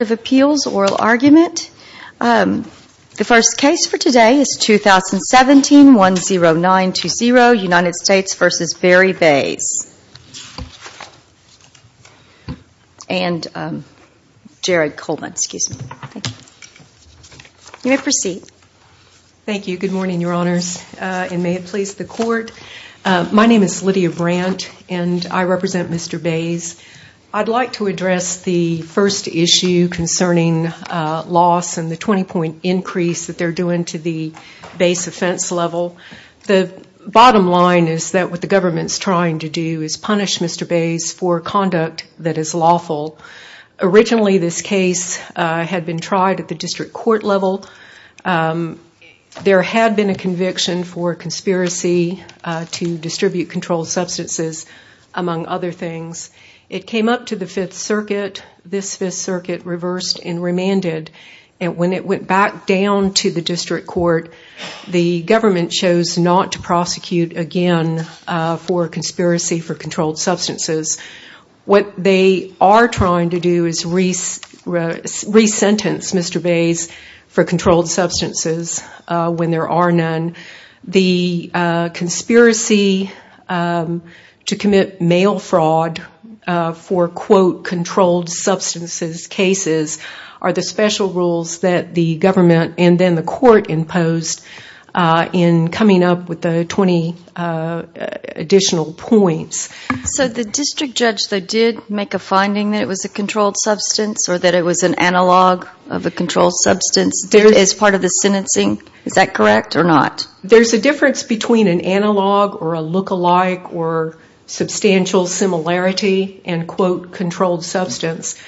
oral argument. The first case for today is 2017-10920, United States v. Barry Bays. Thank you. Good morning, Your Honors, and may it please the Court. My name is Lydia Baird, and I'm going to talk to you today about the 20-point increase that they're doing to the Bays offense level. The bottom line is that what the government's trying to do is punish Mr. Bays for conduct that is lawful. Originally, this case had been tried at the district court level. There had been a conviction for conspiracy to distribute first and remanded, and when it went back down to the district court, the government chose not to prosecute again for conspiracy for controlled substances. What they are trying to do is re-sentence Mr. Bays for controlled substances when there are none. The conspiracy to commit mail fraud for, quote, controlled substances cases are the special rules that the government and then the court imposed in coming up with the 20 additional points. So the district judge, though, did make a finding that it was a controlled substance or that it was an analog of a controlled substance as part of the sentencing? Is that correct or not? There's a difference between an analog or a lookalike or substantial similarity and, quote, controlled substance.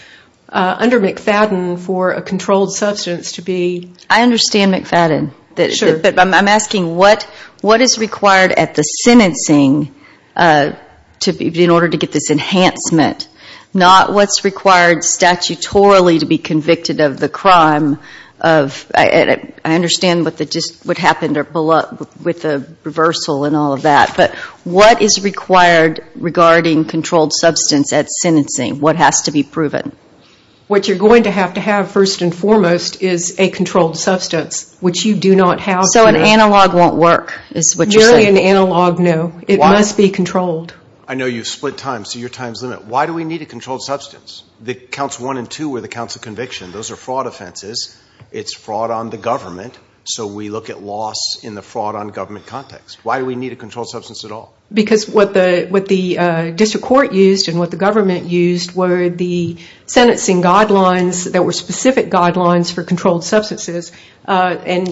Under McFadden, for a controlled substance to be... I understand McFadden, but I'm asking what is required at the sentencing in order to get this enhancement, not what's required statutorily to be convicted of the crime of... I understand what happened with the reversal and all of that, but what is required regarding controlled substance at sentencing? What has to be proven? What you're going to have to have first and foremost is a controlled substance, which you do not have here. So an analog won't work, is what you're saying? Nearly an analog, no. It must be controlled. I know you've split time, so your time's limited. Why do we need a controlled substance? The counts one and two were the counts of conviction. Those are fraud offenses. It's fraud on the government, so we look at loss in the fraud on government context. Why do we need a controlled substance at all? Because what the district court used and what the government used were the sentencing guidelines that were specific guidelines for controlled substances. But it's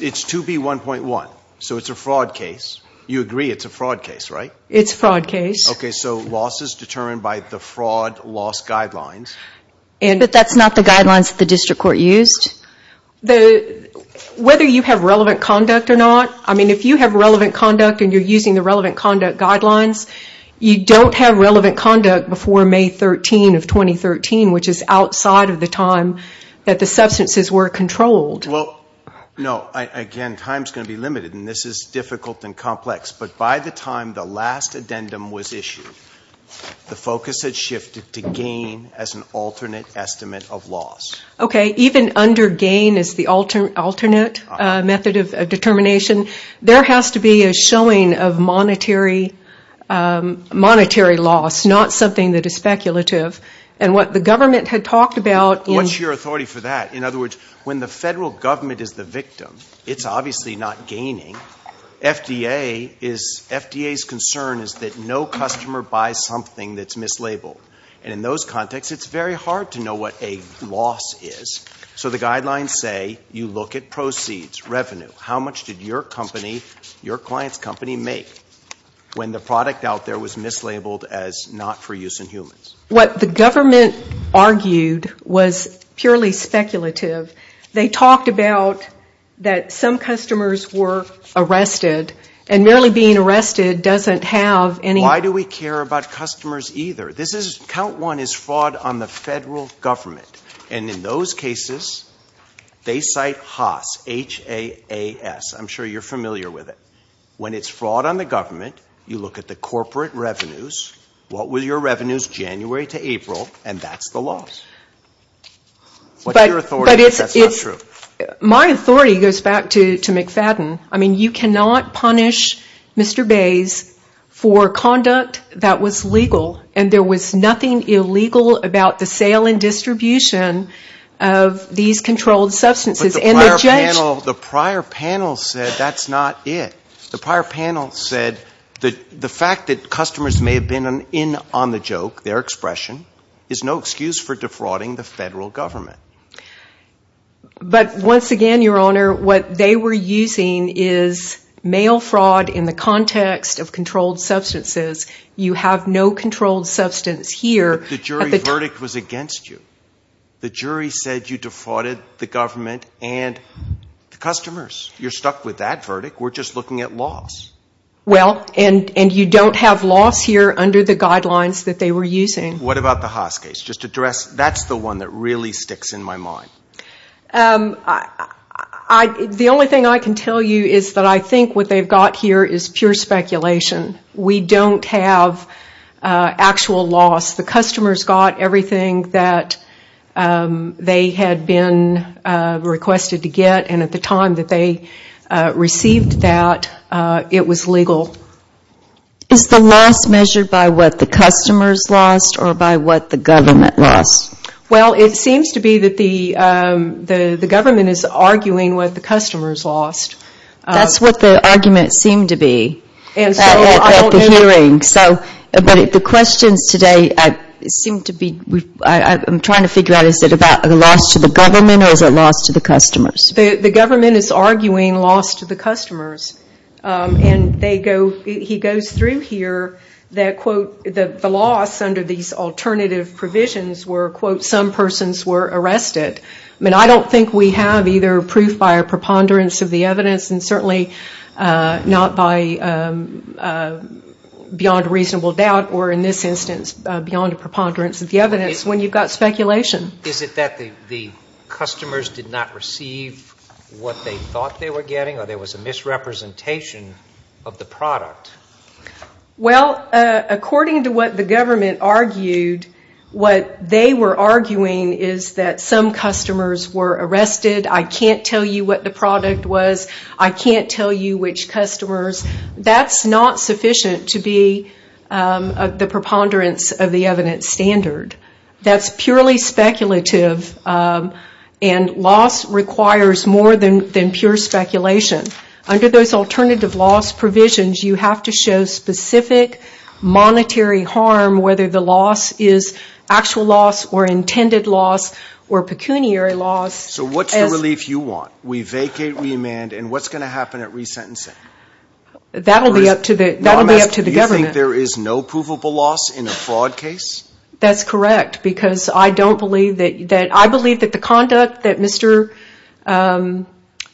2B1.1, so it's a fraud case. You agree it's a fraud case, right? It's a fraud case. So loss is determined by the fraud loss guidelines. But that's not the guidelines that the district court used? Whether you have relevant conduct or not, if you have relevant conduct and you're using the relevant conduct guidelines, you don't have relevant conduct before May 13 of 2013, which is outside of the time that the substances were controlled. Again, time's going to be limited, and this is difficult and complex. But by the time the last addendum was issued, the focus had shifted to gain as an alternate estimate of loss. Okay. Even under gain as the alternate method of determination, there has to be a showing of monetary loss, not something that is speculative. And what the government had talked about in What's your authority for that? In other words, when the federal government is the victim, it's obviously not gaining. FDA is, FDA's concern is that no customer buys something that's mislabeled. And in those contexts, it's very hard to know what a loss is. So the guidelines say you look at proceeds, revenue. How much did your company, your client's company make when the product out there was mislabeled as not for use in humans? What the government argued was purely speculative. They talked about that some customers were arrested, and merely being arrested doesn't have any Why do we care about customers either? This is, count one, is fraud on the federal government. And in those cases, they cite HAAS, H-A-A-S. I'm sure you're familiar with it. When it's January to April, and that's the loss. What's your authority if that's not true? My authority goes back to McFadden. I mean, you cannot punish Mr. Bays for conduct that was legal, and there was nothing illegal about the sale and distribution of these controlled substances. But the prior panel said that's not it. The prior panel said the fact that customers may have been in on the joke, their expression, is no excuse for defrauding the federal government. But once again, Your Honor, what they were using is mail fraud in the context of controlled substances. You have no controlled substance here. The jury verdict was against you. The jury said you defrauded the government and the customers. You're stuck with that verdict. We're just looking at loss. Well, and you don't have loss here under the guidelines that they were using. What about the HAAS case? Just to address, that's the one that really sticks in my mind. The only thing I can tell you is that I think what they've got here is pure speculation. We don't have actual loss. The customers got everything that they had been requested to get was legal. Is the loss measured by what the customers lost or by what the government lost? Well, it seems to be that the government is arguing what the customers lost. That's what the argument seemed to be at the hearing. But the questions today seem to be, I'm trying to figure out, is it a loss to the government or is it a loss to the customers? The government is arguing loss to the customers. He goes through here that, quote, the loss under these alternative provisions were, quote, some persons were arrested. I don't think we have either proof by a preponderance of the evidence and certainly not by beyond a reasonable doubt or in this instance beyond a preponderance of the evidence when you've got speculation. Is it that the customers did not receive what they thought they were getting or there was a misrepresentation of the product? Well, according to what the government argued, what they were arguing is that some customers were arrested. I can't tell you what the product was. I can't tell you which customers. That's not sufficient to be the preponderance of the evidence standard. That's purely speculative and loss requires more than pure speculation. Under those alternative loss provisions, you have to show specific monetary harm, whether the loss is actual loss or intended loss or pecuniary loss. So what's the relief you want? We vacate, remand, and what's going to happen at resentencing? That will be up to the government. Do you think there is no provable loss in a fraud case? That's correct because I don't believe that the conduct that Mr.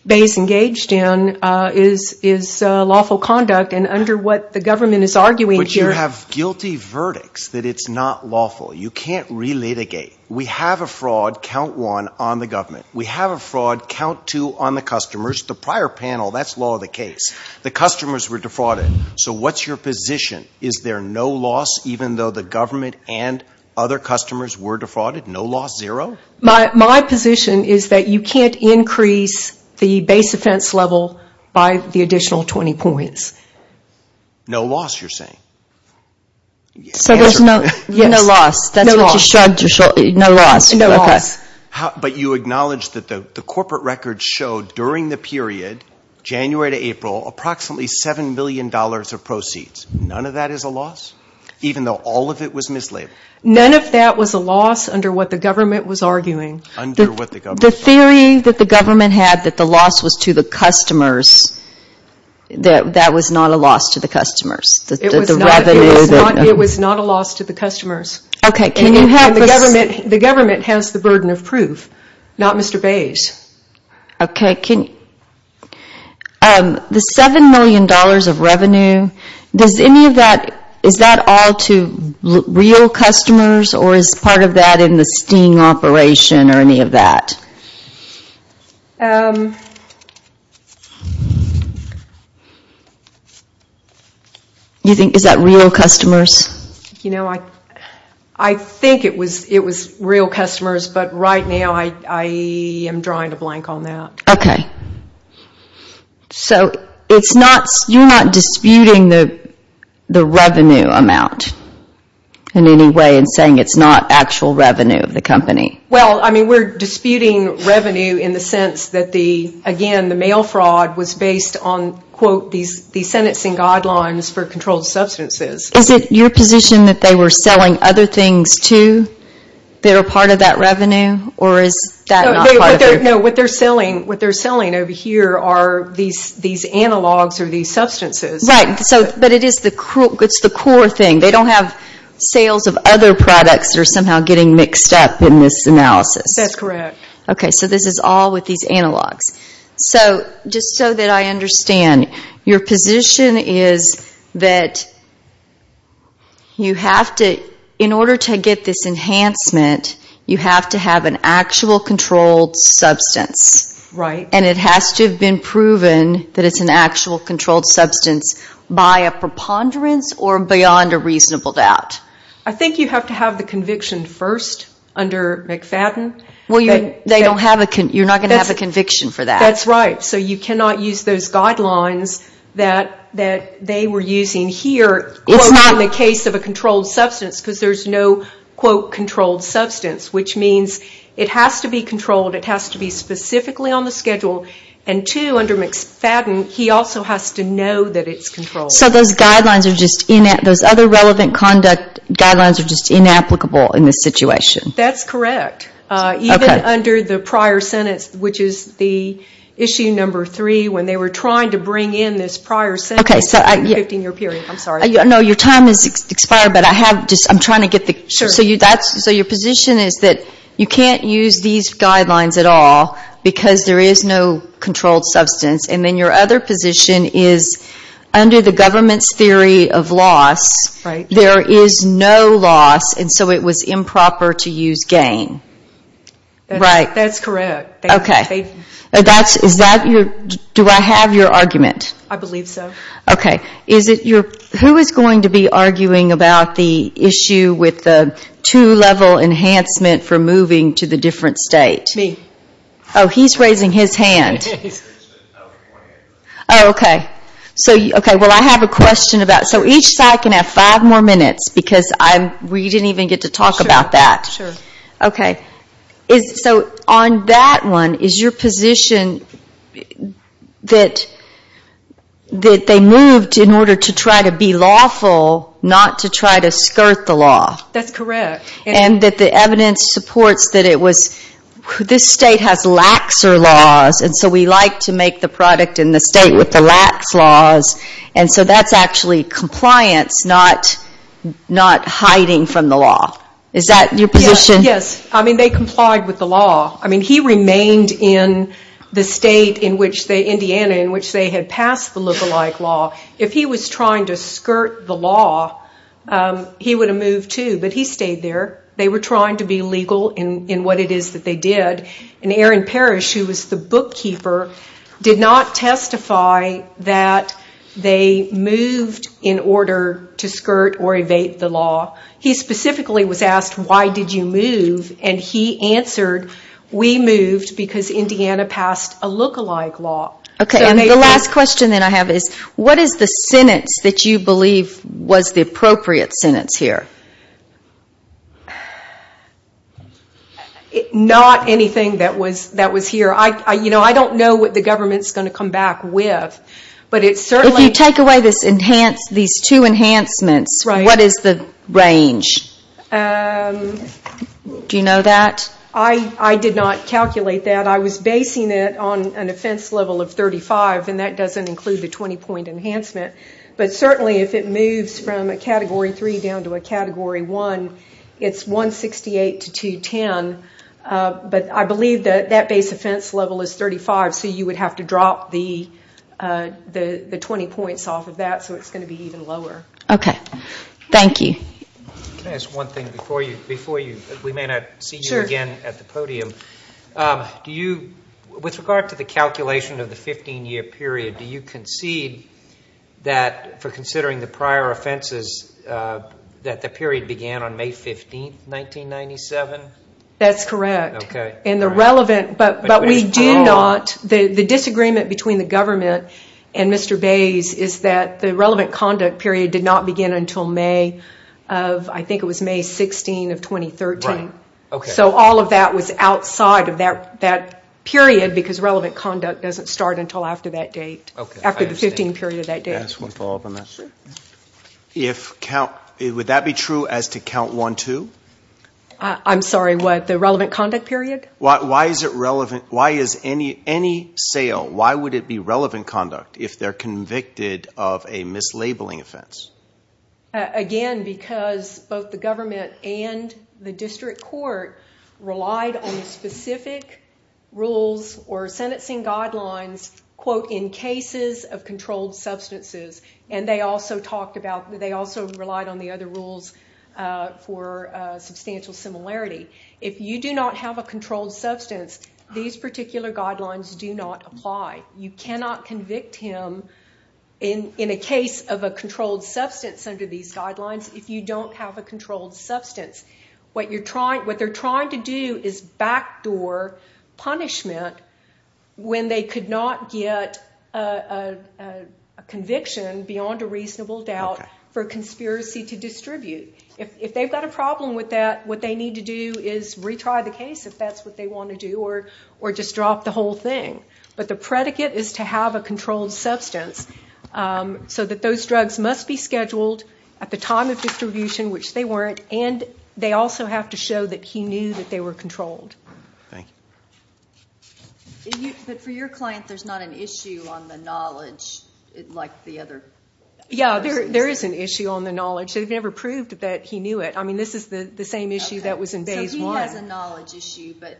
Bays engaged in is lawful conduct and under what the government is arguing here But you have guilty verdicts that it's not lawful. You can't re-litigate. We have a fraud, count one, on the government. We have a fraud, count two, on the customers. The prior panel, that's law of the case. The customers were defrauded. So what's your position? Is there no loss even though the government and other customers were defrauded? No loss, zero? My position is that you can't increase the base offense level by the additional 20 points. No loss, you're saying? So there's no loss. That's what you showed. No loss. But you acknowledged that the corporate records showed during the period, January to April, approximately $7 million of proceeds. None of that is a loss? Even though all of it was mislabeled? None of that was a loss under what the government was arguing. The theory that the government had that the loss was to the customers, that that was not a loss to the customers? It was not a loss to the customers. The government has the burden of proof, not Mr. Bays. The $7 million of revenue, is that all to real customers or is part of that in the sting operation or any of that? Is that real customers? I think it was real customers, but right now I am drawing a blank on that. So you're not disputing the revenue amount in any way and saying it's not actual revenue of the company? We're disputing revenue in the sense that, again, the mail fraud was based on these sentencing guidelines for controlled substances. Is it your position that they were selling other things too that are part of that revenue? What they're selling over here are these analogs or these substances. Right, but it's the core thing. They don't have sales of other products that are somehow getting mixed up in this analysis. That's correct. This is all with these analogs. Just so that I understand, your position is that in order to get this enhancement, you have to have an actual controlled substance. It has to have been proven that it's an actual controlled substance by a preponderance or beyond a reasonable doubt. I think you have to have the conviction first under McFadden. You're not going to have a conviction for that. That's right. So you cannot use those guidelines that they were using here in the case of a controlled substance because there's no, quote, controlled substance, which means it has to be controlled. It has to be specifically on the schedule. And two, under McFadden, he also has to know that it's controlled. So those other relevant conduct guidelines are just inapplicable in this situation? That's correct. Even under the prior sentence, which is the issue number three, when they were trying to bring in this prior sentence, the 15-year period, I'm sorry. No, your time has expired, but I'm trying to get the... So your position is that you can't use these guidelines at all because there is no controlled substance, and then your other position is under the government's theory of loss, there is no loss, and so it was improper to use gain. That's correct. Okay. Do I have your argument? I believe so. Okay. Who is going to be arguing about the issue with the two-level enhancement for moving to the different state? Me. Oh, he's raising his hand. Oh, okay. Well, I have a question about... So each side can have five more minutes, because we didn't even get to talk about that. Sure. Okay. So on that one, is your position that they moved in order to try to be lawful, not to try to skirt the law? That's correct. And that the evidence supports that this state has laxer laws, and so we like to make the product in the state with the lax laws, and so that's actually compliance, not hiding from the law. Is that your position? Yes. I mean, they complied with the law. I mean, he remained in the state, Indiana, in which they had passed the liberal-like law. If he was trying to skirt the law, he would have moved, too, but he stayed there. They were trying to be legal in what it is that they did. And Aaron Parrish, who was the bookkeeper, did not testify that they moved in order to skirt or evade the law. He specifically was asked, why did you move? And he answered, we moved because Indiana passed a look-alike law. Okay. And the last question that I have is, what is the sentence that you believe was the appropriate sentence here? Not anything that was here. You know, I don't know what the government is going to come back with, but it certainly... If you take away these two enhancements, what is the range? Do you know that? I did not calculate that. I was basing it on an offense level of 35, and that doesn't include the 20-point enhancement. But certainly, if it moves from a Category 3 down to a Category 1, it is 168 to 210. But I believe that that base offense level is 35, so you would have to drop the 20 points off of that, so it is going to be even lower. Okay. Thank you. Can I ask one thing before you? We may not see you again at the podium. With regard to the calculation of the 15-year period, do you concede that, for considering the prior offenses, that the period began on May 15, 1997? That's correct. Okay. And the relevant... But we do not... The disagreement between the government and Mr. Bays is that the relevant conduct period did not begin until May of... I think it was May 16 of 2013. Right. Okay. So all of that was outside of that period, because relevant conduct doesn't start until after that date, after the 15 period of that date. Can I ask one follow-up on that? If count... Would that be true as to count 1-2? I'm sorry, what? The relevant conduct period? Why is it relevant... Why is any sale... Why would it be relevant conduct if they're convicted of a mislabeling offense? Again, because both the government and the district court relied on specific rules or sentencing guidelines, quote, in cases of controlled substances. And they also talked about... They also relied on the other rules for substantial similarity. If you do not have a controlled substance, these particular guidelines do not apply. You cannot convict him in a case of a controlled substance under these guidelines if you don't have a controlled substance. What you're trying... What they're trying to do is backdoor punishment when they could not get a conviction beyond a reasonable doubt for a conspiracy to distribute. If they've got a problem with that, what they need to do is retry the case if that's what they want to do or just drop the whole thing. But the predicate is to have a controlled substance so that those drugs must be scheduled at the time of distribution, which they weren't, and they also have to show that he knew that they were controlled. Thank you. But for your client, there's not an issue on the knowledge like the other... Yeah, there is an issue on the knowledge. They've never proved that he knew it. I mean, this is the same issue that was in phase one. He has a knowledge issue, but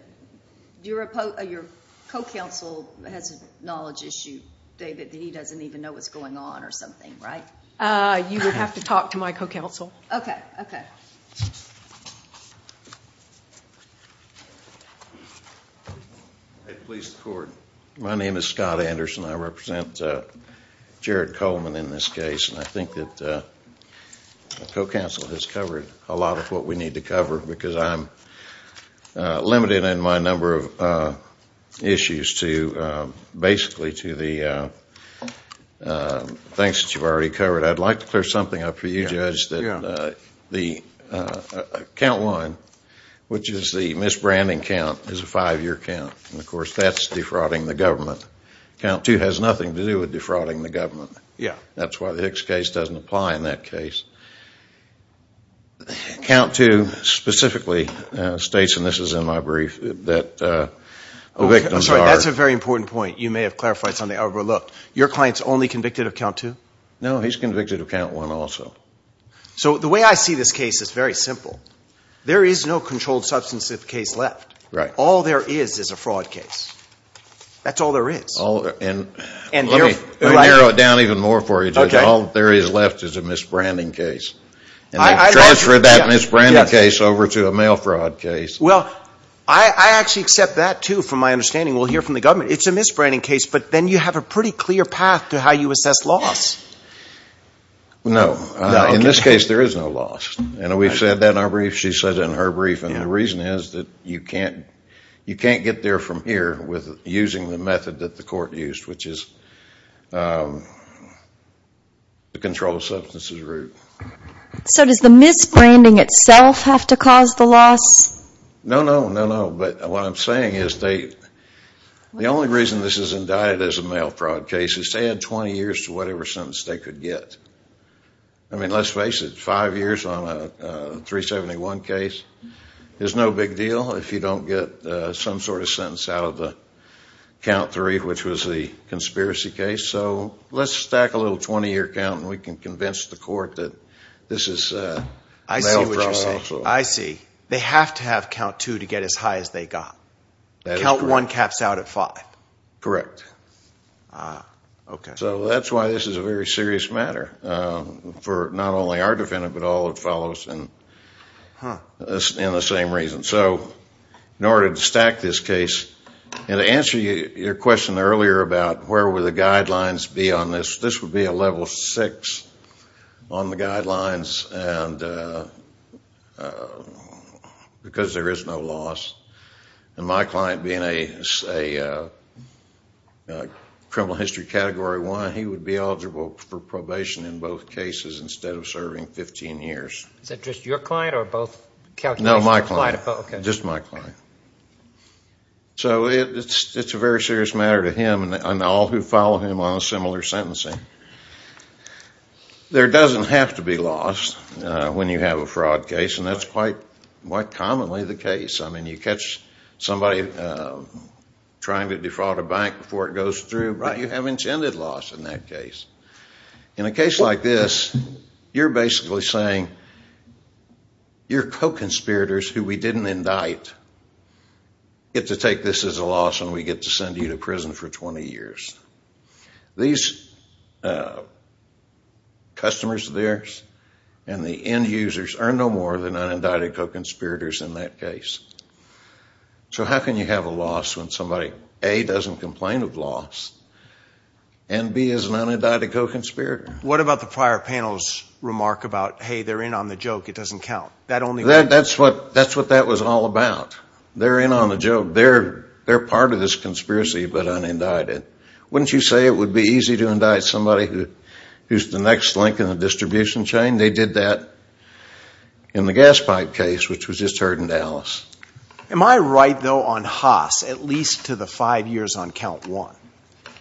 your co-counsel has a knowledge issue, David, that he doesn't even know what's going on or something, right? You would have to talk to my co-counsel. Okay, okay. Please record. My name is Scott Anderson. I represent Jared Coleman in this case, and I think that the co-counsel has covered a lot of what we need to cover because I'm limited in my number of issues to basically to the things that you've already covered. I'd like to clear something up for you, Judge, that the count one, which is the misbranding count, is a five-year count, and of course that's defrauding the government. Count two has nothing to do with defrauding the government. Yeah. That's why the Hicks case doesn't apply in that case. Count two specifically states, and this is in my brief, that the victims are I'm sorry, that's a very important point. You may have clarified something I overlooked. Your client's only convicted of count two? No, he's convicted of count one also. So the way I see this case is very simple. There is no controlled substance case left. Right. All there is is a fraud case. That's all there is. And let me narrow it down even more for you, Judge. All there is left is a misbranding case, and you transfer that misbranding case over to a mail fraud case. Well, I actually accept that, too, from my understanding. We'll hear from the government. It's a misbranding case, but then you have a pretty clear path to how you assess loss. No. In this case, there is no loss, and we've said that in our brief. She said it in her brief, and the reason is that you can't get there from here with using the method that the court used, which is the controlled substances route. So does the misbranding itself have to cause the loss? No, no, no, no. But what I'm saying is the only reason this is indicted as a mail fraud case is to add 20 years to whatever sentence they could get. I mean, let's face it, five years on a 371 case is no big deal if you don't get some sort of sentence out of the count three, which was the conspiracy case. So let's stack a little 20-year count, and we can convince the court that this is mail fraud also. I see what you're saying. I see. They have to have count two to get as high as they got. That is correct. Count one caps out at five. Correct. Ah, okay. So that's why this is a very serious matter for not only our defendant, but all that follows in the same reason. So in order to stack this case, and to answer your question earlier about where would the guidelines be on this, this would be a level six on the guidelines because there is no loss. And my client being a criminal history category one, he would be eligible for probation in both cases instead of serving 15 years. Is that just your client or both calculations? No, my client. Oh, okay. Just my client. So it's a very serious matter to him and all who follow him on similar sentencing. There doesn't have to be loss when you have a fraud case, and that's quite commonly the case. I mean, you catch somebody trying to defraud a bank before it goes through, but you have intended loss in that case. In a case like this, you're basically saying your co-conspirators who we didn't indict get to take this as a loss and we get to send you to prison for 20 years. These customers of theirs and the end users are no more than unindicted co-conspirators in that case. So how can you have a loss when somebody A, doesn't complain of loss, and B, is an unindicted co-conspirator? What about the prior panel's remark about, hey, they're in on the joke, it doesn't count? That's what that was all about. They're in on the joke. They're part of this conspiracy but unindicted. Wouldn't you say it would be easy to indict somebody who's the next link in the distribution chain? They did that in the gas pipe case, which was just heard in Dallas. Am I right, though, on Haas, at least to the five years on count one,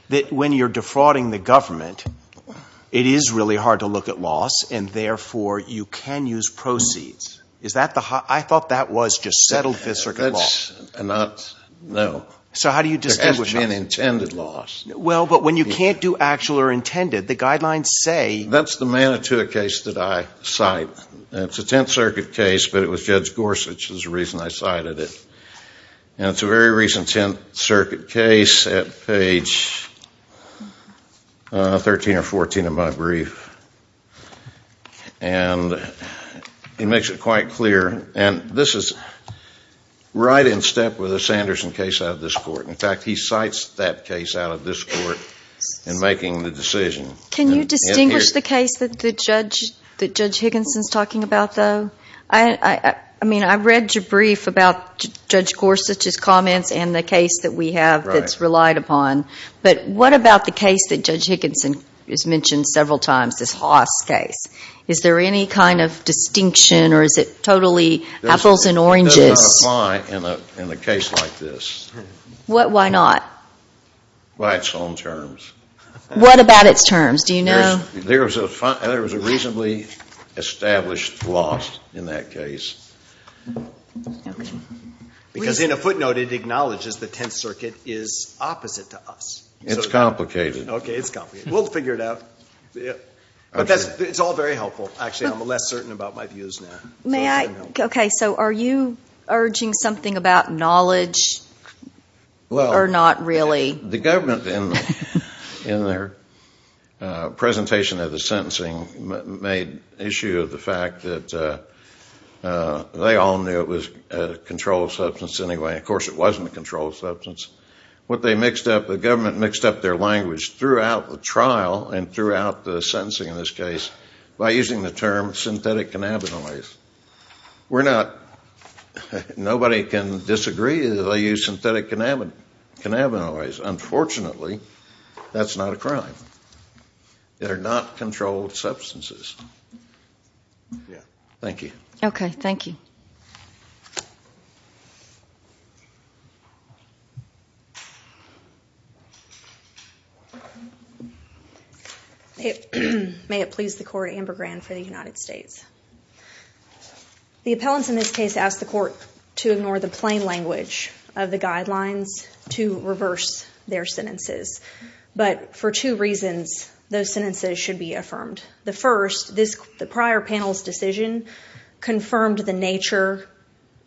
that when you're defrauding the government, it is really hard to look at loss and therefore you can use proceeds? I thought that was just settled Fifth Circuit law. No. So how do you distinguish? There has to be an intended loss. Well, but when you can't do actual or intended, the guidelines say... That's the Manitoua case that I cite. It's a Tenth Circuit case, but it was Judge Gorsuch who cited it. It's a very recent Tenth Circuit case at page 13 or 14 of my brief. It makes it quite clear. This is right in step with the Sanderson case out of this court. In fact, he cites that case out of this court in making the decision. Can you distinguish the case that Judge Higginson is talking about, though? I mean, I read your brief about Judge Gorsuch's comments and the case that we have that's relied upon, but what about the case that Judge Higginson has mentioned several times, this Haas case? Is there any kind of distinction or is it totally apples and oranges? That does not apply in a case like this. What? Why not? By its own terms. What about its terms? Do you know? There was a reasonably established loss in that case. Because in a footnote, it acknowledges the Tenth Circuit is opposite to us. It's complicated. Okay, it's complicated. We'll figure it out. But it's all very helpful. Actually, I'm less certain about my views now. May I? Okay, so are you urging something about knowledge or not really? The government in their presentation of the sentencing made issue of the fact that they all knew it was a controlled substance anyway. Of course, it wasn't a controlled substance. What they mixed up, the government mixed up their language throughout the trial and throughout the sentencing in this case by using the term synthetic cannabinoids. We're not, nobody can disagree that they used synthetic cannabinoids. Unfortunately, that's not a crime. They're not controlled substances. Thank you. Okay, thank you. May it please the court, Amber Grand for the United States. The appellants in this case asked the court to ignore the plain language of the guidelines to reverse their sentences. But for two reasons, those sentences should be affirmed. The first, the prior panel's decision confirmed the nature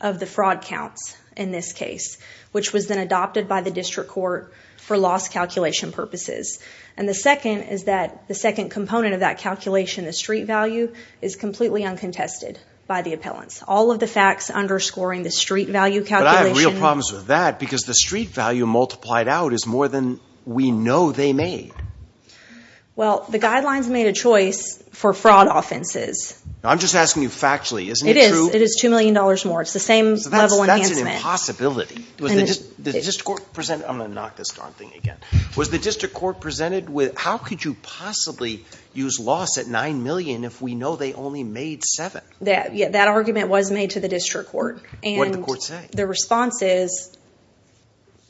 of the fraud counts in this case, which was then adopted by the district court for loss calculation purposes. And the second is that the second component of that calculation, the street value, is completely uncontested by the appellants. All of the facts underscoring the street value calculation. But I have real problems with that because the street value multiplied out is more than we know they made. Well, the guidelines made a choice for fraud offenses. I'm just asking you factually, isn't it true? It is. It is $2 million more. It's the same level enhancement. That's an impossibility. Was the district court presented, I'm going to knock this darn thing again. Was the district court presented with, how could you possibly use loss at $9 million if we know they only made $7? That argument was made to the district court. What did the court say? The response is,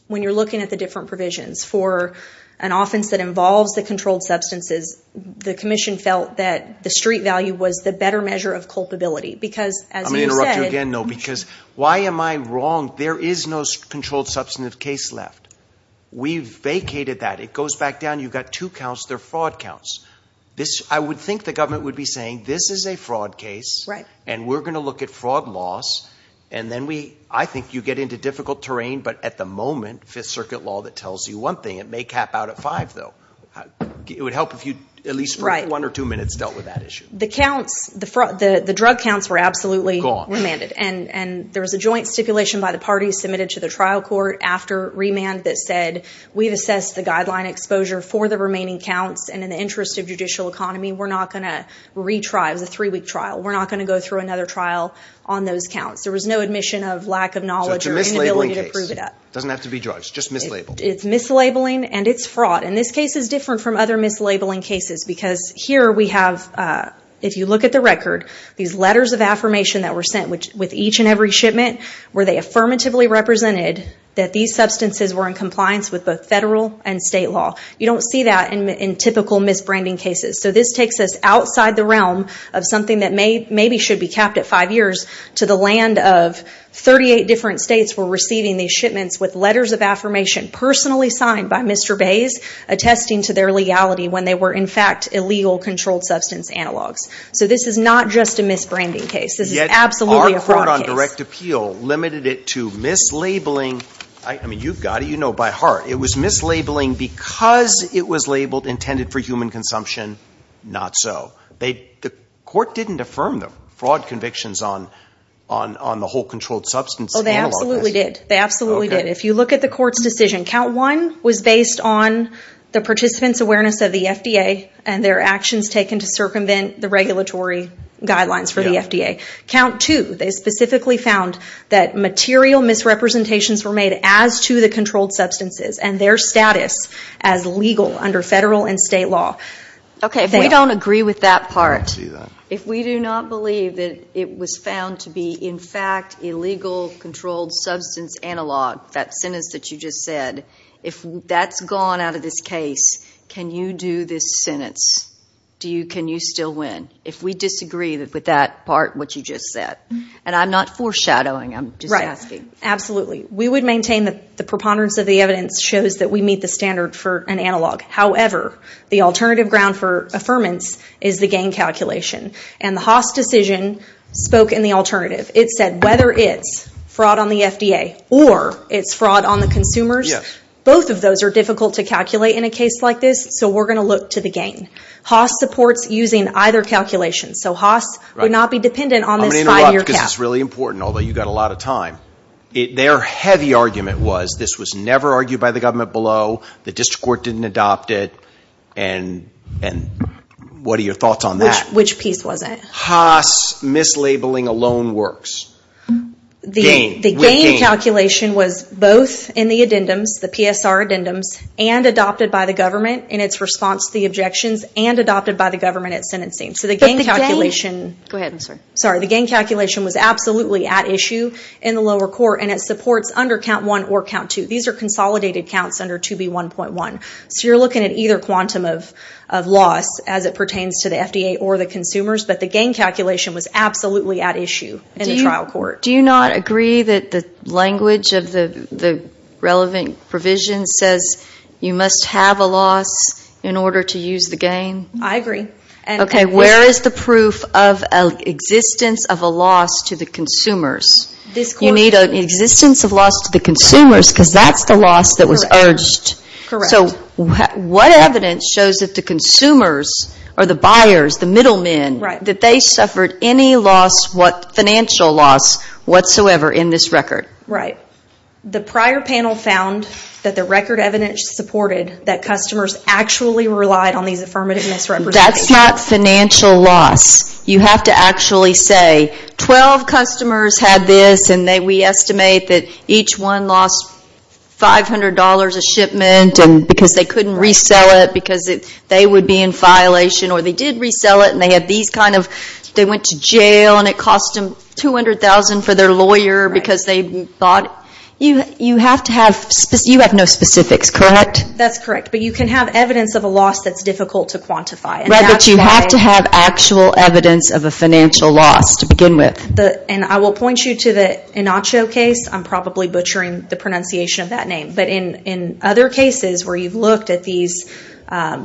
when you're looking at the different provisions for an offense that involves the controlled substances, the commission felt that the street value was the better measure of culpability. Because as you said- I'm going to interrupt you again, though, because why am I wrong? There is no controlled substantive case left. We've vacated that. It goes back down. You've got two counts. They're fraud counts. I would think the government would be saying, this is a fraud case. We're going to look at fraud loss. I think you get into difficult terrain, but at the moment, Fifth Circuit law that tells you one thing, it may cap out at five, though. It would help if you at least for one or two minutes dealt with that issue. The drug counts were absolutely remanded. There was a joint stipulation by the parties submitted to the trial court after remand that said, we've assessed the guideline exposure for the remaining counts. In the interest of judicial economy, we're not going to retry. It was a three-week trial. We're not going to go through another trial on those counts. There was no admission of lack of knowledge or inability to prove it up. It's a mislabeling case. It doesn't have to be drugs. Just mislabeled. It's mislabeling and it's fraud. This case is different from other mislabeling cases because here we have, if you look at the record, these letters of affirmation that were sent with each and every shipment where they affirmatively represented that these substances were in compliance with both federal and state law. You don't see that in typical misbranding cases. So this takes us outside the realm of something that maybe should be capped at five years to the land of 38 different states were receiving these shipments with letters of affirmation personally signed by Mr. Bays, attesting to their legality when they were in fact illegal controlled substance analogs. So this is not just a misbranding case. This is absolutely a fraud case. Our court on direct appeal limited it to mislabeling. I mean, you've got it. You know by heart. It was mislabeling because it was labeled intended for human consumption. Not so. The court didn't affirm the fraud convictions on the whole controlled substance analog. Oh, they absolutely did. They absolutely did. If you look at the court's decision, count one was based on the participant's awareness of the FDA and their actions taken to circumvent the regulatory guidelines for the FDA. Count two, they specifically found that material misrepresentations were made as to the controlled substances and their status as legal under federal and state law. Okay, if we don't agree with that part, if we do not believe that it was found to be in fact illegal controlled substance analog, that sentence that you just said, if that's gone out of this case, can you do this sentence? Can you still win? If we disagree with that part, what you just said. And I'm not foreshadowing. I'm just asking. Absolutely. We would maintain that the preponderance of the evidence shows that we meet the standard for an analog. However, the alternative ground for affirmance is the gain calculation. And the Haas decision spoke in the alternative. It said whether it's fraud on the FDA or it's fraud on the consumers, both of those are difficult to calculate in a case like this. So we're going to look to the gain. Haas supports using either calculation. So Haas would not be dependent on this five year cap. Because it's really important, although you've got a lot of time. Their heavy argument was this was never argued by the government below, the district court didn't adopt it, and what are your thoughts on that? Which piece was it? Haas mislabeling alone works. The gain calculation was both in the addendums, the PSR addendums, and adopted by the government in its response to the objections, and adopted by the government at sentencing. So the gain calculation... Go ahead, I'm sorry. The gain calculation was absolutely at issue in the lower court, and it supports under count one or count two. These are consolidated counts under 2B1.1. So you're looking at either quantum of loss as it pertains to the FDA or the consumers, but the gain calculation was absolutely at issue in the trial court. Do you not agree that the language of the relevant provision says you must have a loss in order to use the gain? I agree. Okay, where is the proof of existence of a loss to the consumers? You need an existence of loss to the consumers because that's the loss that was urged. So what evidence shows that the consumers or the buyers, the middlemen, that they suffered any financial loss whatsoever in this record? The prior panel found that the record evidence supported that customers actually relied on these affirmative misrepresentations. That's not financial loss. You have to actually say, 12 customers had this and we estimate that each one lost $500 a shipment because they couldn't resell it because they would be in violation, or they did resell it and they went to jail and it cost them $200,000 for their lawyer because they bought... You have no specifics, correct? That's correct, but you can have evidence of a loss that's difficult to quantify. But you have to have actual evidence of a financial loss to begin with. And I will point you to the Inacho case. I'm probably butchering the pronunciation of that name, but in other cases where you've looked at these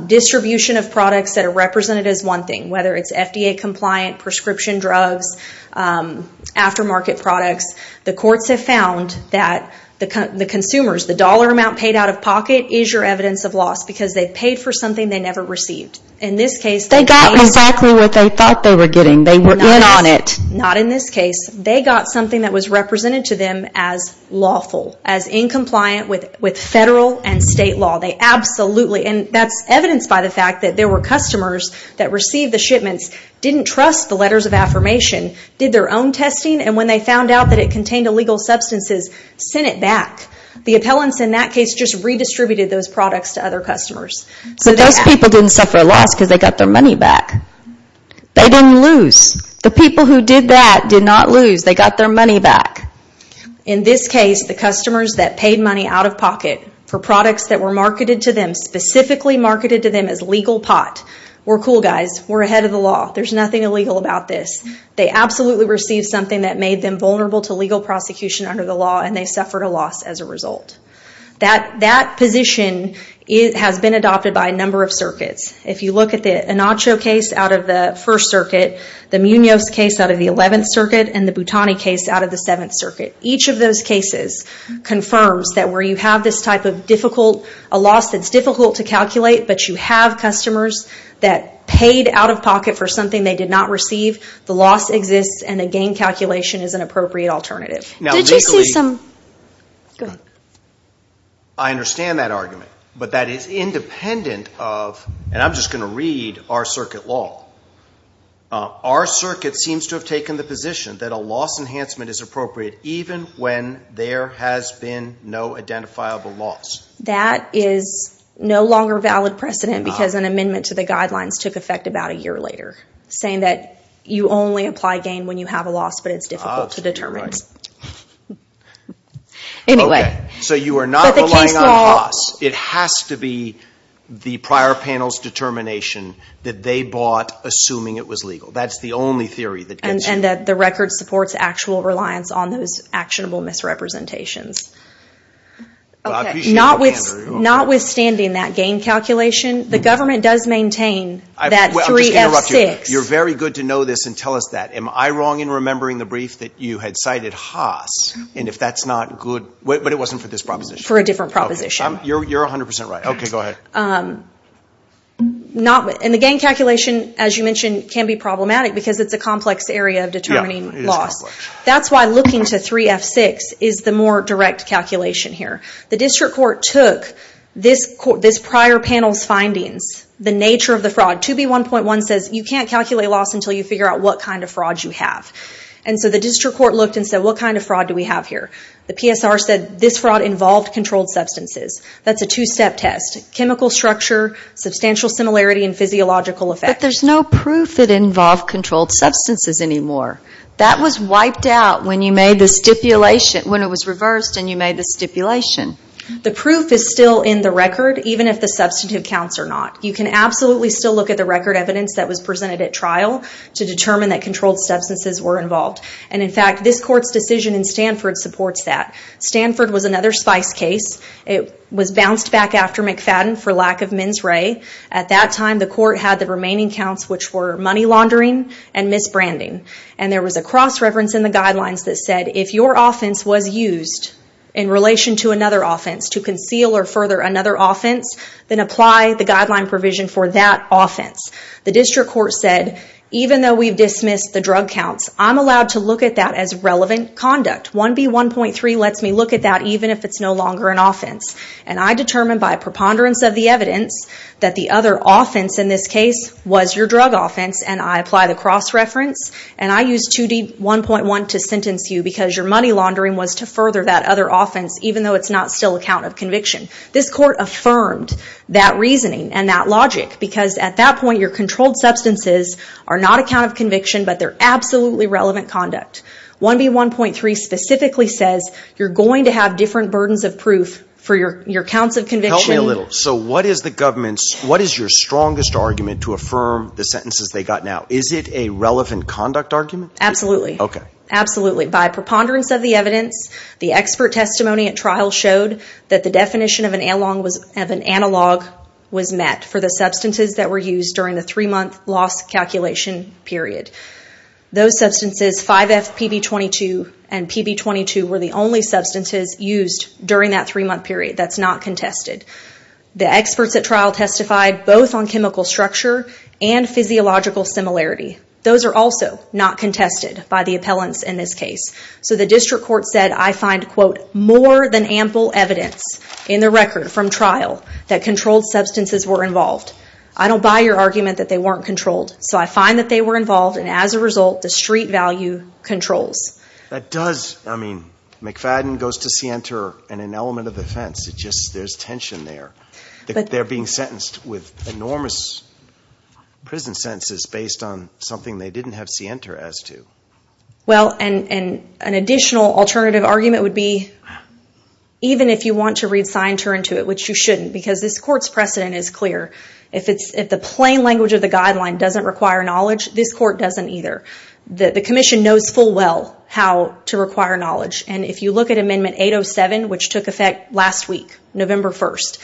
distribution of products that are represented as one thing, whether it's FDA compliant, prescription drugs, aftermarket products, the courts have found that the consumers, the dollar amount paid out of pocket is your evidence of loss because they paid for something they never received. In this case... They got exactly what they thought they were getting. They were in on it. Not in this case. They got something that was represented to them as lawful, as incompliant with federal and state law. They absolutely... And that's evidenced by the fact that there were customers that received the shipments, didn't trust the letters of affirmation, did their own testing, and when they found out that it contained illegal substances, sent it back. The appellants in that case just redistributed those products to other customers. But those people didn't suffer a loss because they got their money back. They didn't lose. The people who did that did not lose. They got their money back. In this case, the customers that paid money out of pocket for products that were marketed to them, specifically marketed to them as legal pot, were cool guys. We're ahead of the law. There's nothing illegal about this. They absolutely received something that made them vulnerable to legal prosecution under the law, and they suffered a loss as a result. That position has been adopted by a number of circuits. If you look at the Anacho case out of the First Circuit, the Munoz case out of the Eleventh Circuit, and the Boutani case out of the Seventh Circuit, each of those cases confirms that where you have this type of difficult... A loss that's difficult to calculate, but you have customers that paid out of pocket for something they did not receive, the loss exists, and a gain calculation is an appropriate alternative. Did you see some... I understand that argument, but that is independent of... And I'm just going to read our circuit law. Our circuit seems to have taken the position that a loss enhancement is appropriate even when there has been no identifiable loss. That is no longer valid precedent, because an amendment to the guidelines took effect about a year later, saying that you only apply gain when you have a loss, but it's difficult to determine. You're right. Anyway... But the case law... So you are not relying on loss. It has to be the prior panel's determination that they bought assuming it was legal. That's the only theory that gets... And that the record supports actual reliance on those actionable misrepresentations. Well, I appreciate that, Andrew. Notwithstanding that gain calculation, the government does maintain that 3F6... I'm just going to interrupt you. You're very good to know this and tell us that. Am I wrong in remembering the brief that you had cited Haas? And if that's not good... But it wasn't for this proposition. For a different proposition. You're 100% right. Okay, go ahead. The gain calculation, as you mentioned, can be problematic because it's a complex area of determining loss. Yeah, it is complex. That's why looking to 3F6 is the more direct calculation here. The district court took this prior panel's findings, the nature of the fraud. 2B1.1 says you can't calculate loss until you figure out what kind of fraud you have. And so the district court looked and said, what kind of fraud do we have here? The PSR said this fraud involved controlled substances. That's a two-step test. Chemical structure, substantial similarity, and physiological effect. But there's no proof it involved controlled substances anymore. That was wiped out when you made the stipulation, when it was reversed and you made the stipulation. The proof is still in the record, even if the substantive counts are not. You can absolutely still look at the record evidence that was presented at trial to determine that controlled substances were involved. And in fact, this court's decision in Stanford supports that. Stanford was another spice case. It was bounced back after McFadden for lack of mens re. At that time, the court had the remaining counts, which were money laundering and misbranding. And there was a cross-reference in the guidelines that said, if your offense was used in relation to another offense to conceal or further another offense, then apply the guideline provision for that offense. The district court said, even though we've dismissed the drug counts, I'm allowed to look at that as relevant conduct. 1B1.3 lets me look at that even if it's no longer an offense. And I determine by preponderance of the evidence that the other offense in this case was your drug offense, and I apply the cross-reference, and I use 2D1.1 to sentence you because your money laundering was to further that other offense, even though it's not still a count of conviction. This court affirmed that reasoning and that logic, because at that point, your controlled substances are not a count of conviction, but they're absolutely relevant conduct. 1B1.3 specifically says you're going to have different burdens of proof for your counts Help me a little. So what is the government's, what is your strongest argument to affirm the sentences they got now? Is it a relevant conduct argument? Absolutely. Okay. Absolutely. By preponderance of the evidence, the expert testimony at trial showed that the definition of an analog was met for the substances that were used during the three-month loss calculation period. Those substances, 5FPB22 and PB22, were the only substances used during that three-month period. That's not contested. The experts at trial testified both on chemical structure and physiological similarity. Those are also not contested by the appellants in this case. So the district court said, I find, quote, more than ample evidence in the record from trial that controlled substances were involved. I don't buy your argument that they weren't controlled. So I find that they were involved, and as a result, the street value controls. That does, I mean, McFadden goes to Sienter and an element of defense, it just, there's tension there. They're being sentenced with enormous prison sentences based on something they didn't have Sienter as to. Well, and an additional alternative argument would be, even if you want to read sign turn to it, which you shouldn't, because this court's precedent is clear. If the plain language of the guideline doesn't require knowledge, this court doesn't either. The commission knows full well how to require knowledge, and if you look at Amendment 807, which took effect last week, November 1st,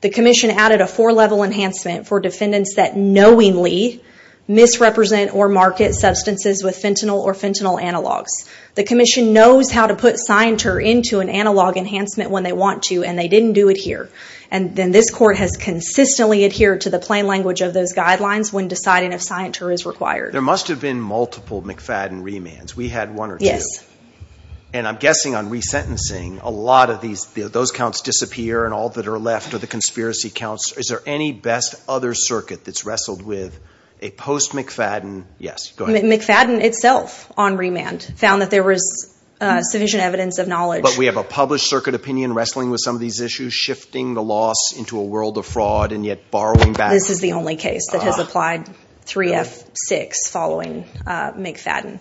the commission added a four-level enhancement for defendants that knowingly misrepresent or market substances with fentanyl or fentanyl analogs. The commission knows how to put Sienter into an analog enhancement when they want to, and they didn't do it here. And then this court has consistently adhered to the plain language of those guidelines when deciding if Sienter is required. There must have been multiple McFadden remands. We had one or two. Yes. And I'm guessing on resentencing, a lot of these, those counts disappear and all that are left are the conspiracy counts. Is there any best other circuit that's wrestled with a post-McFadden, yes, go ahead. McFadden itself on remand found that there was sufficient evidence of knowledge. But we have a published circuit opinion wrestling with some of these issues, shifting the loss into a world of fraud and yet borrowing back. This is the only case that has applied 3F6 following McFadden.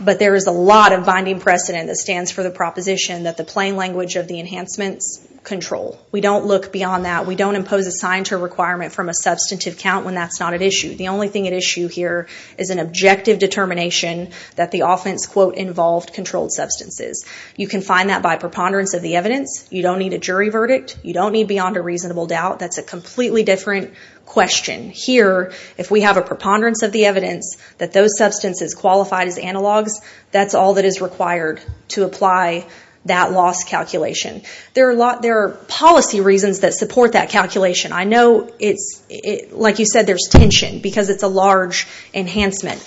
But there is a lot of binding precedent that stands for the proposition that the plain language of the enhancements control. We don't look beyond that. We don't impose a Sienter requirement from a substantive count when that's not at issue. The only thing at issue here is an objective determination that the offense, quote, involved controlled substances. You can find that by preponderance of the evidence. You don't need a jury verdict. You don't need beyond a reasonable doubt. That's a completely different question. Here, if we have a preponderance of the evidence that those substances qualified as analogs, that's all that is required to apply that loss calculation. There are policy reasons that support that calculation. I know it's, like you said, there's tension because it's a large enhancement.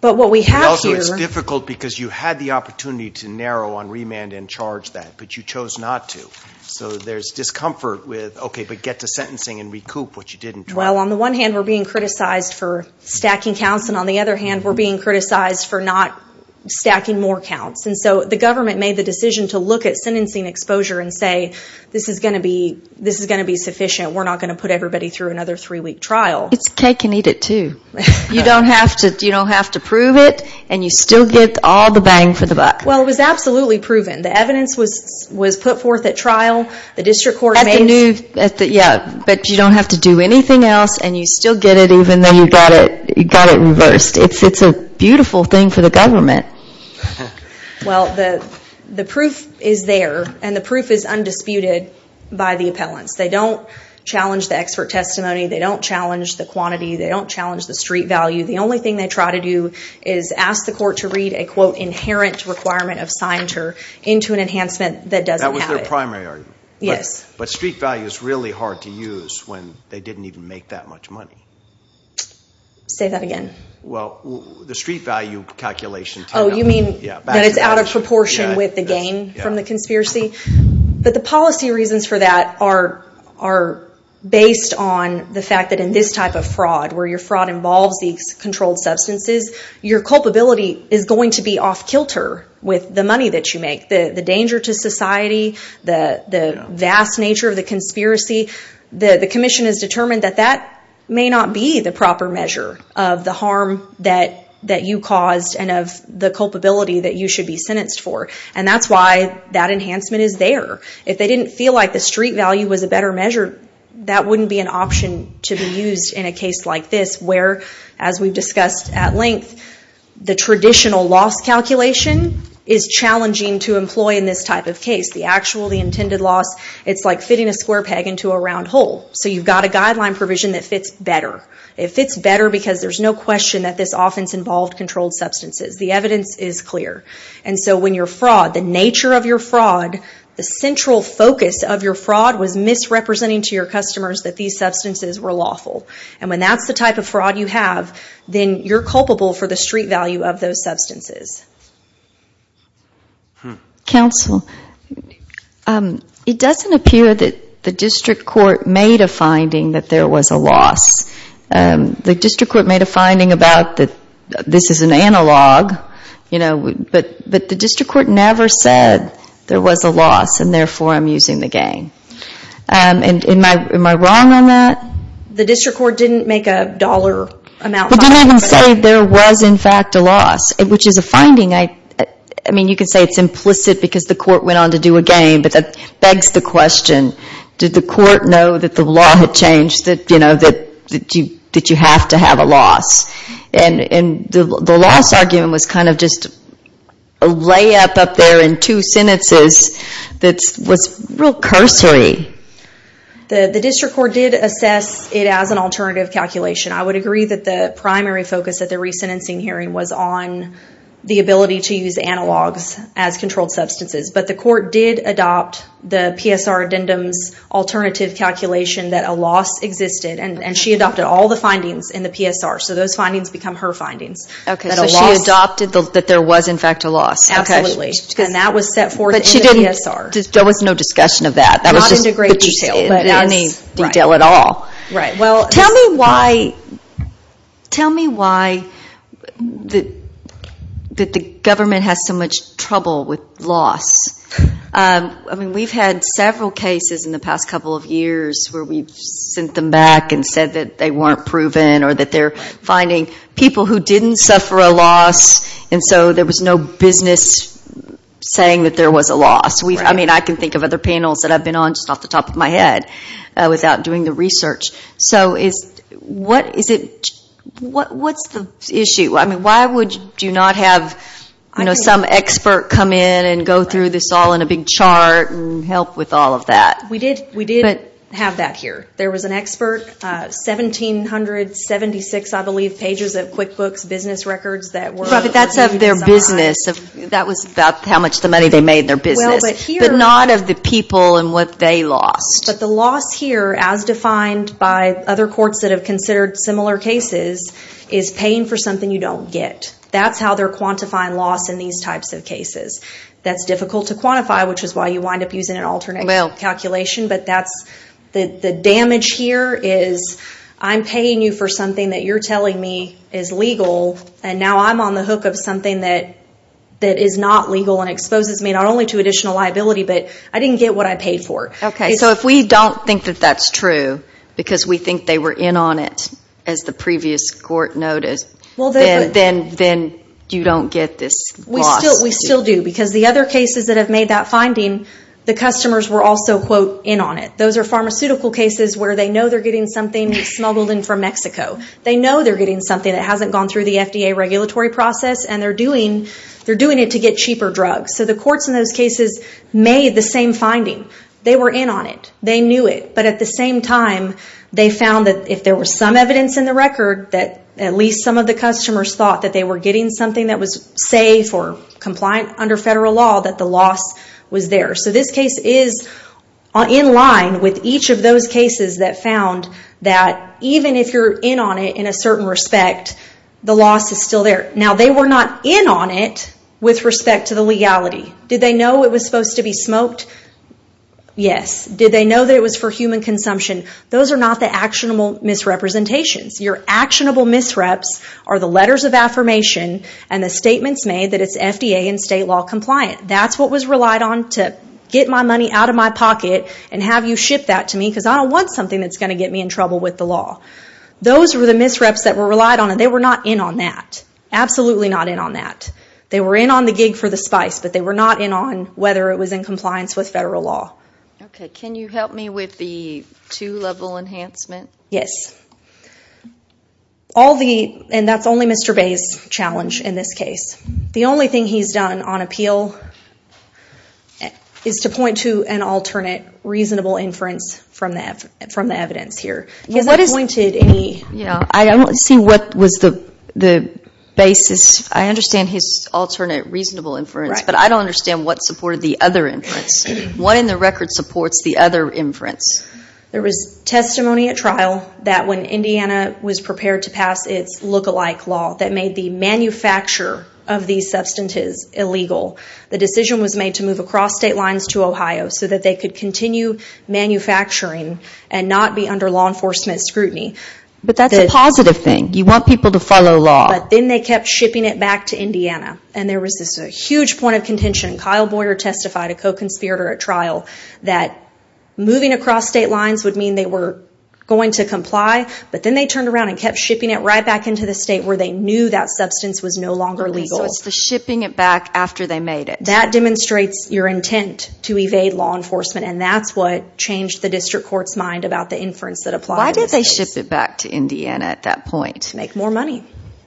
But what we have here- Well, on the one hand, we're being criticized for stacking counts. And on the other hand, we're being criticized for not stacking more counts. And so the government made the decision to look at sentencing exposure and say, this is going to be sufficient. We're not going to put everybody through another three-week trial. It's cake and eat it, too. You don't have to prove it, and you still get all the bang for the buck. Well, it was absolutely proven. The evidence was put forth at trial. The district court made- Yeah, but you don't have to do anything else, and you still get it even though you got it reversed. It's a beautiful thing for the government. Well, the proof is there, and the proof is undisputed by the appellants. They don't challenge the expert testimony. They don't challenge the quantity. They don't challenge the street value. The only thing they try to do is ask the court to read a, quote, inherent requirement of signature into an enhancement that doesn't have it. That was their primary argument. Yes. But street value is really hard to use when they didn't even make that much money. Say that again. Well, the street value calculation- Oh, you mean that it's out of proportion with the gain from the conspiracy? But the policy reasons for that are based on the fact that in this type of fraud, where your fraud involves these controlled substances, your culpability is going to be off kilter with the money that you make, the danger to society, the vast nature of the conspiracy. The commission has determined that that may not be the proper measure of the harm that you caused and of the culpability that you should be sentenced for, and that's why that enhancement is there. If they didn't feel like the street value was a better measure, that wouldn't be an enhancement. It's where, as we've discussed at length, the traditional loss calculation is challenging to employ in this type of case. The actually intended loss, it's like fitting a square peg into a round hole. So you've got a guideline provision that fits better. It fits better because there's no question that this offense involved controlled substances. The evidence is clear. And so when your fraud, the nature of your fraud, the central focus of your fraud was misrepresenting to your customers that these substances were lawful. And when that's the type of fraud you have, then you're culpable for the street value of those substances. Counsel, it doesn't appear that the district court made a finding that there was a loss. The district court made a finding about that this is an analog, but the district court never said there was a loss and therefore I'm using the gang. Am I wrong on that? The district court didn't make a dollar amount finding. They didn't even say there was in fact a loss, which is a finding. You could say it's implicit because the court went on to do a game, but that begs the question, did the court know that the law had changed, that you have to have a loss? And the loss argument was kind of just a layup up there in two sentences that was real cursory. The district court did assess it as an alternative calculation. I would agree that the primary focus at the re-sentencing hearing was on the ability to use analogs as controlled substances, but the court did adopt the PSR addendum's alternative calculation that a loss existed, and she adopted all the findings in the PSR, so those findings become her findings. Okay, so she adopted that there was in fact a loss. Absolutely. And that was set forth in the PSR. There was no discussion of that. Not into great detail, but in any detail at all. Tell me why the government has so much trouble with loss. We've had several cases in the past couple of years where we've sent them back and said that they weren't proven or that they're finding people who didn't suffer a loss, and so there was no business saying that there was a loss. I mean, I can think of other panels that I've been on just off the top of my head without doing the research, so what's the issue? Why would you not have some expert come in and go through this all in a big chart and help with all of that? We did have that here. There was an expert, 1,776, I believe, pages of QuickBooks business records that were... That's of their business. That was about how much money they made in their business, but not of the people and what they lost. But the loss here, as defined by other courts that have considered similar cases, is paying for something you don't get. That's how they're quantifying loss in these types of cases. That's difficult to quantify, which is why you wind up using an alternate calculation, but the damage here is I'm paying you for something that you're telling me is legal, and now I'm on the hook of something that is not legal and exposes me not only to additional liability, but I didn't get what I paid for. Okay, so if we don't think that that's true, because we think they were in on it, as the previous court noted, then you don't get this loss? We still do, because the other cases that have made that finding, the customers were also, quote, in on it. Those are pharmaceutical cases where they know they're getting something smuggled in from Mexico. They know they're getting something that hasn't gone through the FDA regulatory process, and they're doing it to get cheaper drugs. The courts in those cases made the same finding. They were in on it. They knew it. But at the same time, they found that if there was some evidence in the record that at least some of the customers thought that they were getting something that was safe or compliant under federal law, that the loss was there. This case is in line with each of those cases that found that even if you're in on it in a certain respect, the loss is still there. Now they were not in on it with respect to the legality. Did they know it was supposed to be smoked? Yes. Did they know that it was for human consumption? Those are not the actionable misrepresentations. Your actionable misreps are the letters of affirmation and the statements made that it's FDA and state law compliant. That's what was relied on to get my money out of my pocket and have you ship that to me because I don't want something that's going to get me in trouble with the law. Those were the misreps that were relied on, and they were not in on that. Absolutely not in on that. They were in on the gig for the spice, but they were not in on whether it was in compliance with federal law. Okay. Can you help me with the two-level enhancement? Yes. And that's only Mr. Bay's challenge in this case. The only thing he's done on appeal is to point to an alternate reasonable inference from the evidence here. Has that pointed any... I don't see what was the basis. I understand his alternate reasonable inference, but I don't understand what supported the other inference. What in the record supports the other inference? There was testimony at trial that when Indiana was prepared to pass its look-alike law that made the manufacture of these substances illegal, the decision was made to move across state lines to Ohio so that they could continue manufacturing and not be under law enforcement scrutiny. But that's a positive thing. You want people to follow law. But then they kept shipping it back to Indiana, and there was this huge point of contention. Kyle Boyer testified, a co-conspirator at trial, that moving across state lines would mean they were going to comply, but then they turned around and kept shipping it right back into the state where they knew that substance was no longer legal. Okay, so it's the shipping it back after they made it. That demonstrates your intent to evade law enforcement, and that's what changed the district court's mind about the inference that applied in this case. Why did they ship it back to Indiana at that point? Make more money.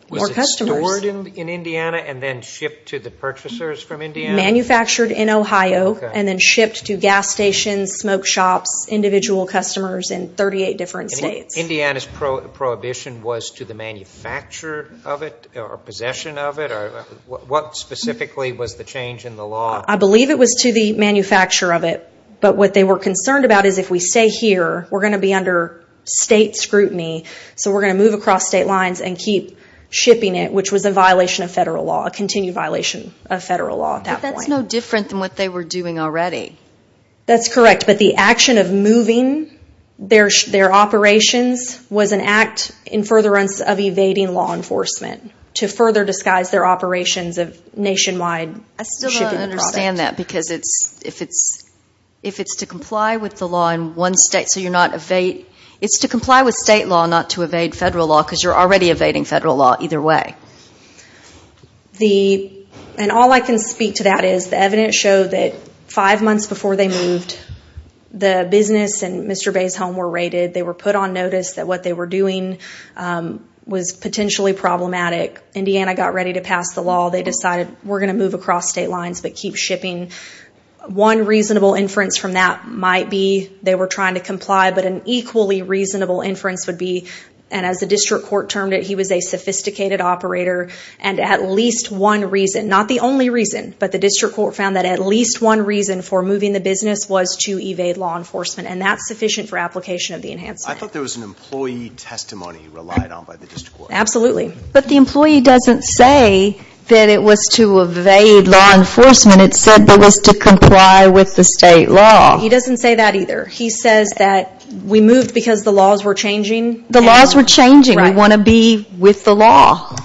More customers. Was it stored in Indiana and then shipped to the purchasers from Indiana? Manufactured in Ohio and then shipped to gas stations, smoke shops, individual customers in 38 different states. Indiana's prohibition was to the manufacturer of it or possession of it? What specifically was the change in the law? I believe it was to the manufacturer of it, but what they were concerned about is if we stay here, we're going to be under state scrutiny, so we're going to move across state lines and keep shipping it, which was a violation of federal law, a continued violation of federal law at that point. But that's no different than what they were doing already. That's correct, but the action of moving their operations was an act in furtherance of evading law enforcement to further disguise their operations of nationwide shipping the product. I still don't understand that because if it's to comply with the law in one state, so you're not evade... It's to comply with state law, not to evade federal law, because you're already evading federal law either way. All I can speak to that is the evidence showed that five months before they moved, the business and Mr. Bay's home were raided. They were put on notice that what they were doing was potentially problematic. Indiana got ready to pass the law. They decided we're going to move across state lines, but keep shipping. One reasonable inference from that might be they were trying to comply, but an equally sophisticated operator, and at least one reason, not the only reason, but the district court found that at least one reason for moving the business was to evade law enforcement, and that's sufficient for application of the enhancement. I thought there was an employee testimony relied on by the district court. Absolutely. But the employee doesn't say that it was to evade law enforcement. It said that it was to comply with the state law. He doesn't say that either. He says that we moved because the laws were changing. The laws were changing. We want to be with the law.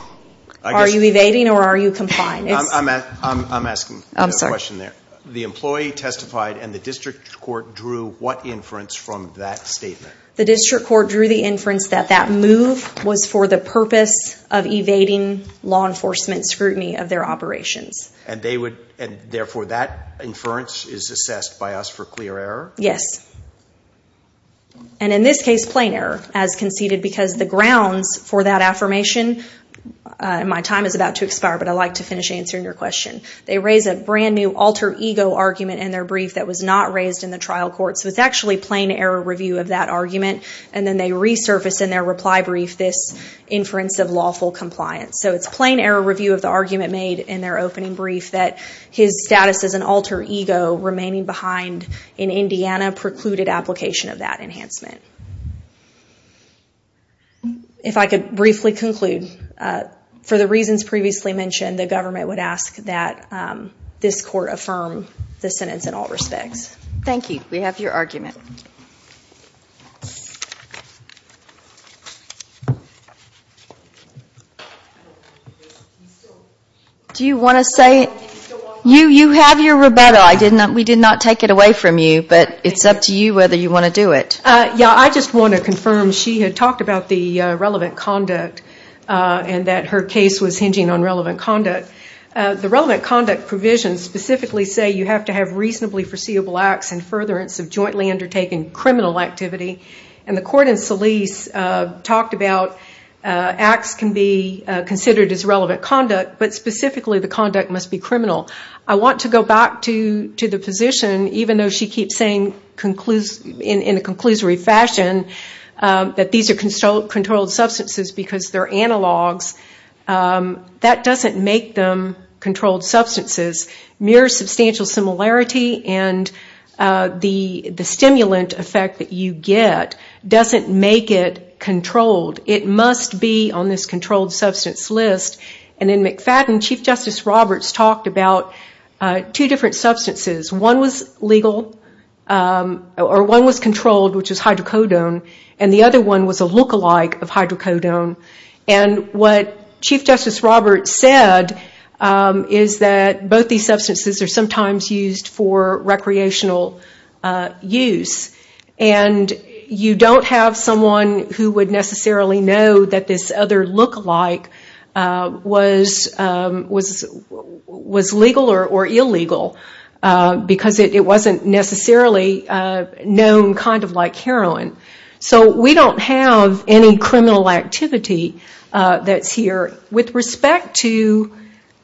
Are you evading or are you complying? I'm asking the question there. The employee testified and the district court drew what inference from that statement? The district court drew the inference that that move was for the purpose of evading law enforcement scrutiny of their operations. Therefore that inference is assessed by us for clear error? Yes. And in this case, plain error as conceded because the grounds for that affirmation, my time is about to expire, but I'd like to finish answering your question. They raise a brand new alter ego argument in their brief that was not raised in the trial court. So it's actually plain error review of that argument, and then they resurface in their reply brief this inference of lawful compliance. So it's plain error review of the argument made in their opening brief that his status as an alter ego remaining behind in Indiana precluded application of that enhancement. If I could briefly conclude, for the reasons previously mentioned, the government would ask that this court affirm the sentence in all respects. We have your argument. Do you want to say? You have your rebuttal. We did not take it away from you, but it's up to you whether you want to do it. Yeah. I just want to confirm. She had talked about the relevant conduct and that her case was hinging on relevant conduct. The relevant conduct provisions specifically say you have to have reasonably foreseeable acts and furtherance of jointly undertaken criminal activity. And the court in Solis talked about acts can be considered as relevant conduct, but specifically the conduct must be criminal. I want to go back to the position, even though she keeps saying in a conclusory fashion that these are controlled substances because they're analogs, that doesn't make them controlled substances. Mere substantial similarity and the stimulant effect that you get doesn't make it controlled. It must be on this controlled substance list. And in McFadden, Chief Justice Roberts talked about two different substances. One was legal, or one was controlled, which was hydrocodone, and the other one was a look-alike of hydrocodone. And what Chief Justice Roberts said is that both these substances are sometimes used for recreational use. And you don't have someone who would necessarily know that this other look-alike was legal or illegal because it wasn't necessarily known kind of like heroin. So we don't have any criminal activity that's here. With respect to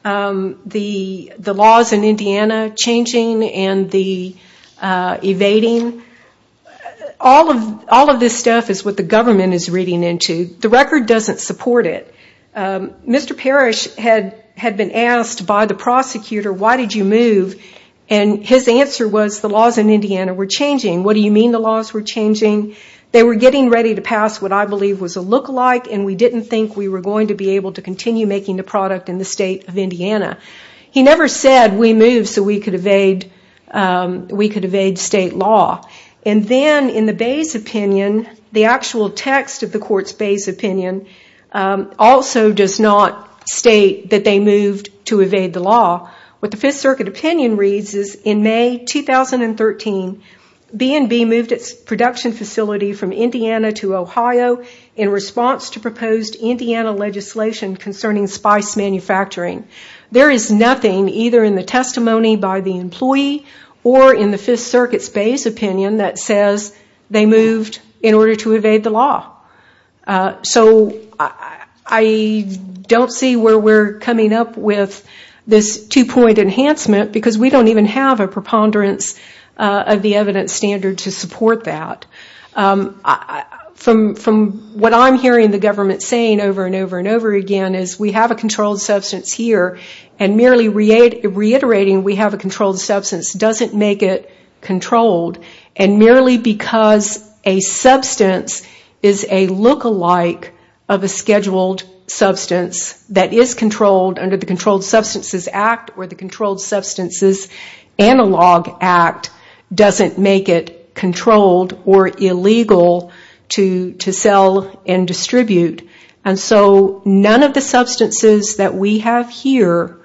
the laws in Indiana changing and the evading, all of this stuff is what the government is reading into. The record doesn't support it. Mr. Parrish had been asked by the prosecutor, why did you move? And his answer was the laws in Indiana were changing. What do you mean the laws were changing? They were getting ready to pass what I believe was a look-alike and we didn't think we were going to be able to continue making the product in the state of Indiana. He never said we moved so we could evade state law. And then in the Bay's opinion, the actual text of the court's Bay's opinion also does not state that they moved to evade the law. What the Fifth Circuit opinion reads is in May 2013, B&B moved its production facility from Indiana to Ohio in response to proposed Indiana legislation concerning spice manufacturing. There is nothing either in the testimony by the employee or in the Fifth Circuit's Bay's opinion that says they moved in order to evade the law. So, I don't see where we're coming up with this two-point enhancement because we don't even have a preponderance of the evidence standard to support that. From what I'm hearing the government saying over and over and over again is we have a controlled substance here and merely reiterating we have a controlled substance doesn't make it controlled. Merely because a substance is a look-alike of a scheduled substance that is controlled under the Controlled Substances Act or the Controlled Substances Analog Act doesn't make it controlled or illegal to sell and distribute. So, none of the substances that we have here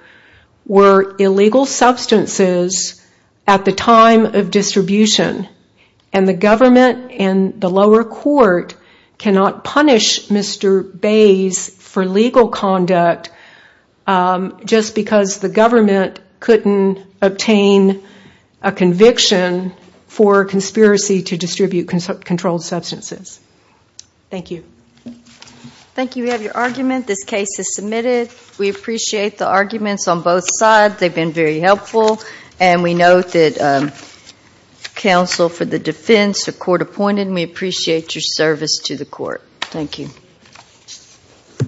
were illegal substances at the time of distribution. The government and the lower court cannot punish Mr. Bay's for legal conduct just because the government couldn't obtain a conviction for conspiracy to distribute controlled substances. Thank you. Thank you. We have your argument. This case is submitted. We appreciate the arguments on both sides. They've been very helpful. And we note that counsel for the defense are court-appointed and we appreciate your service to the court. Thank you.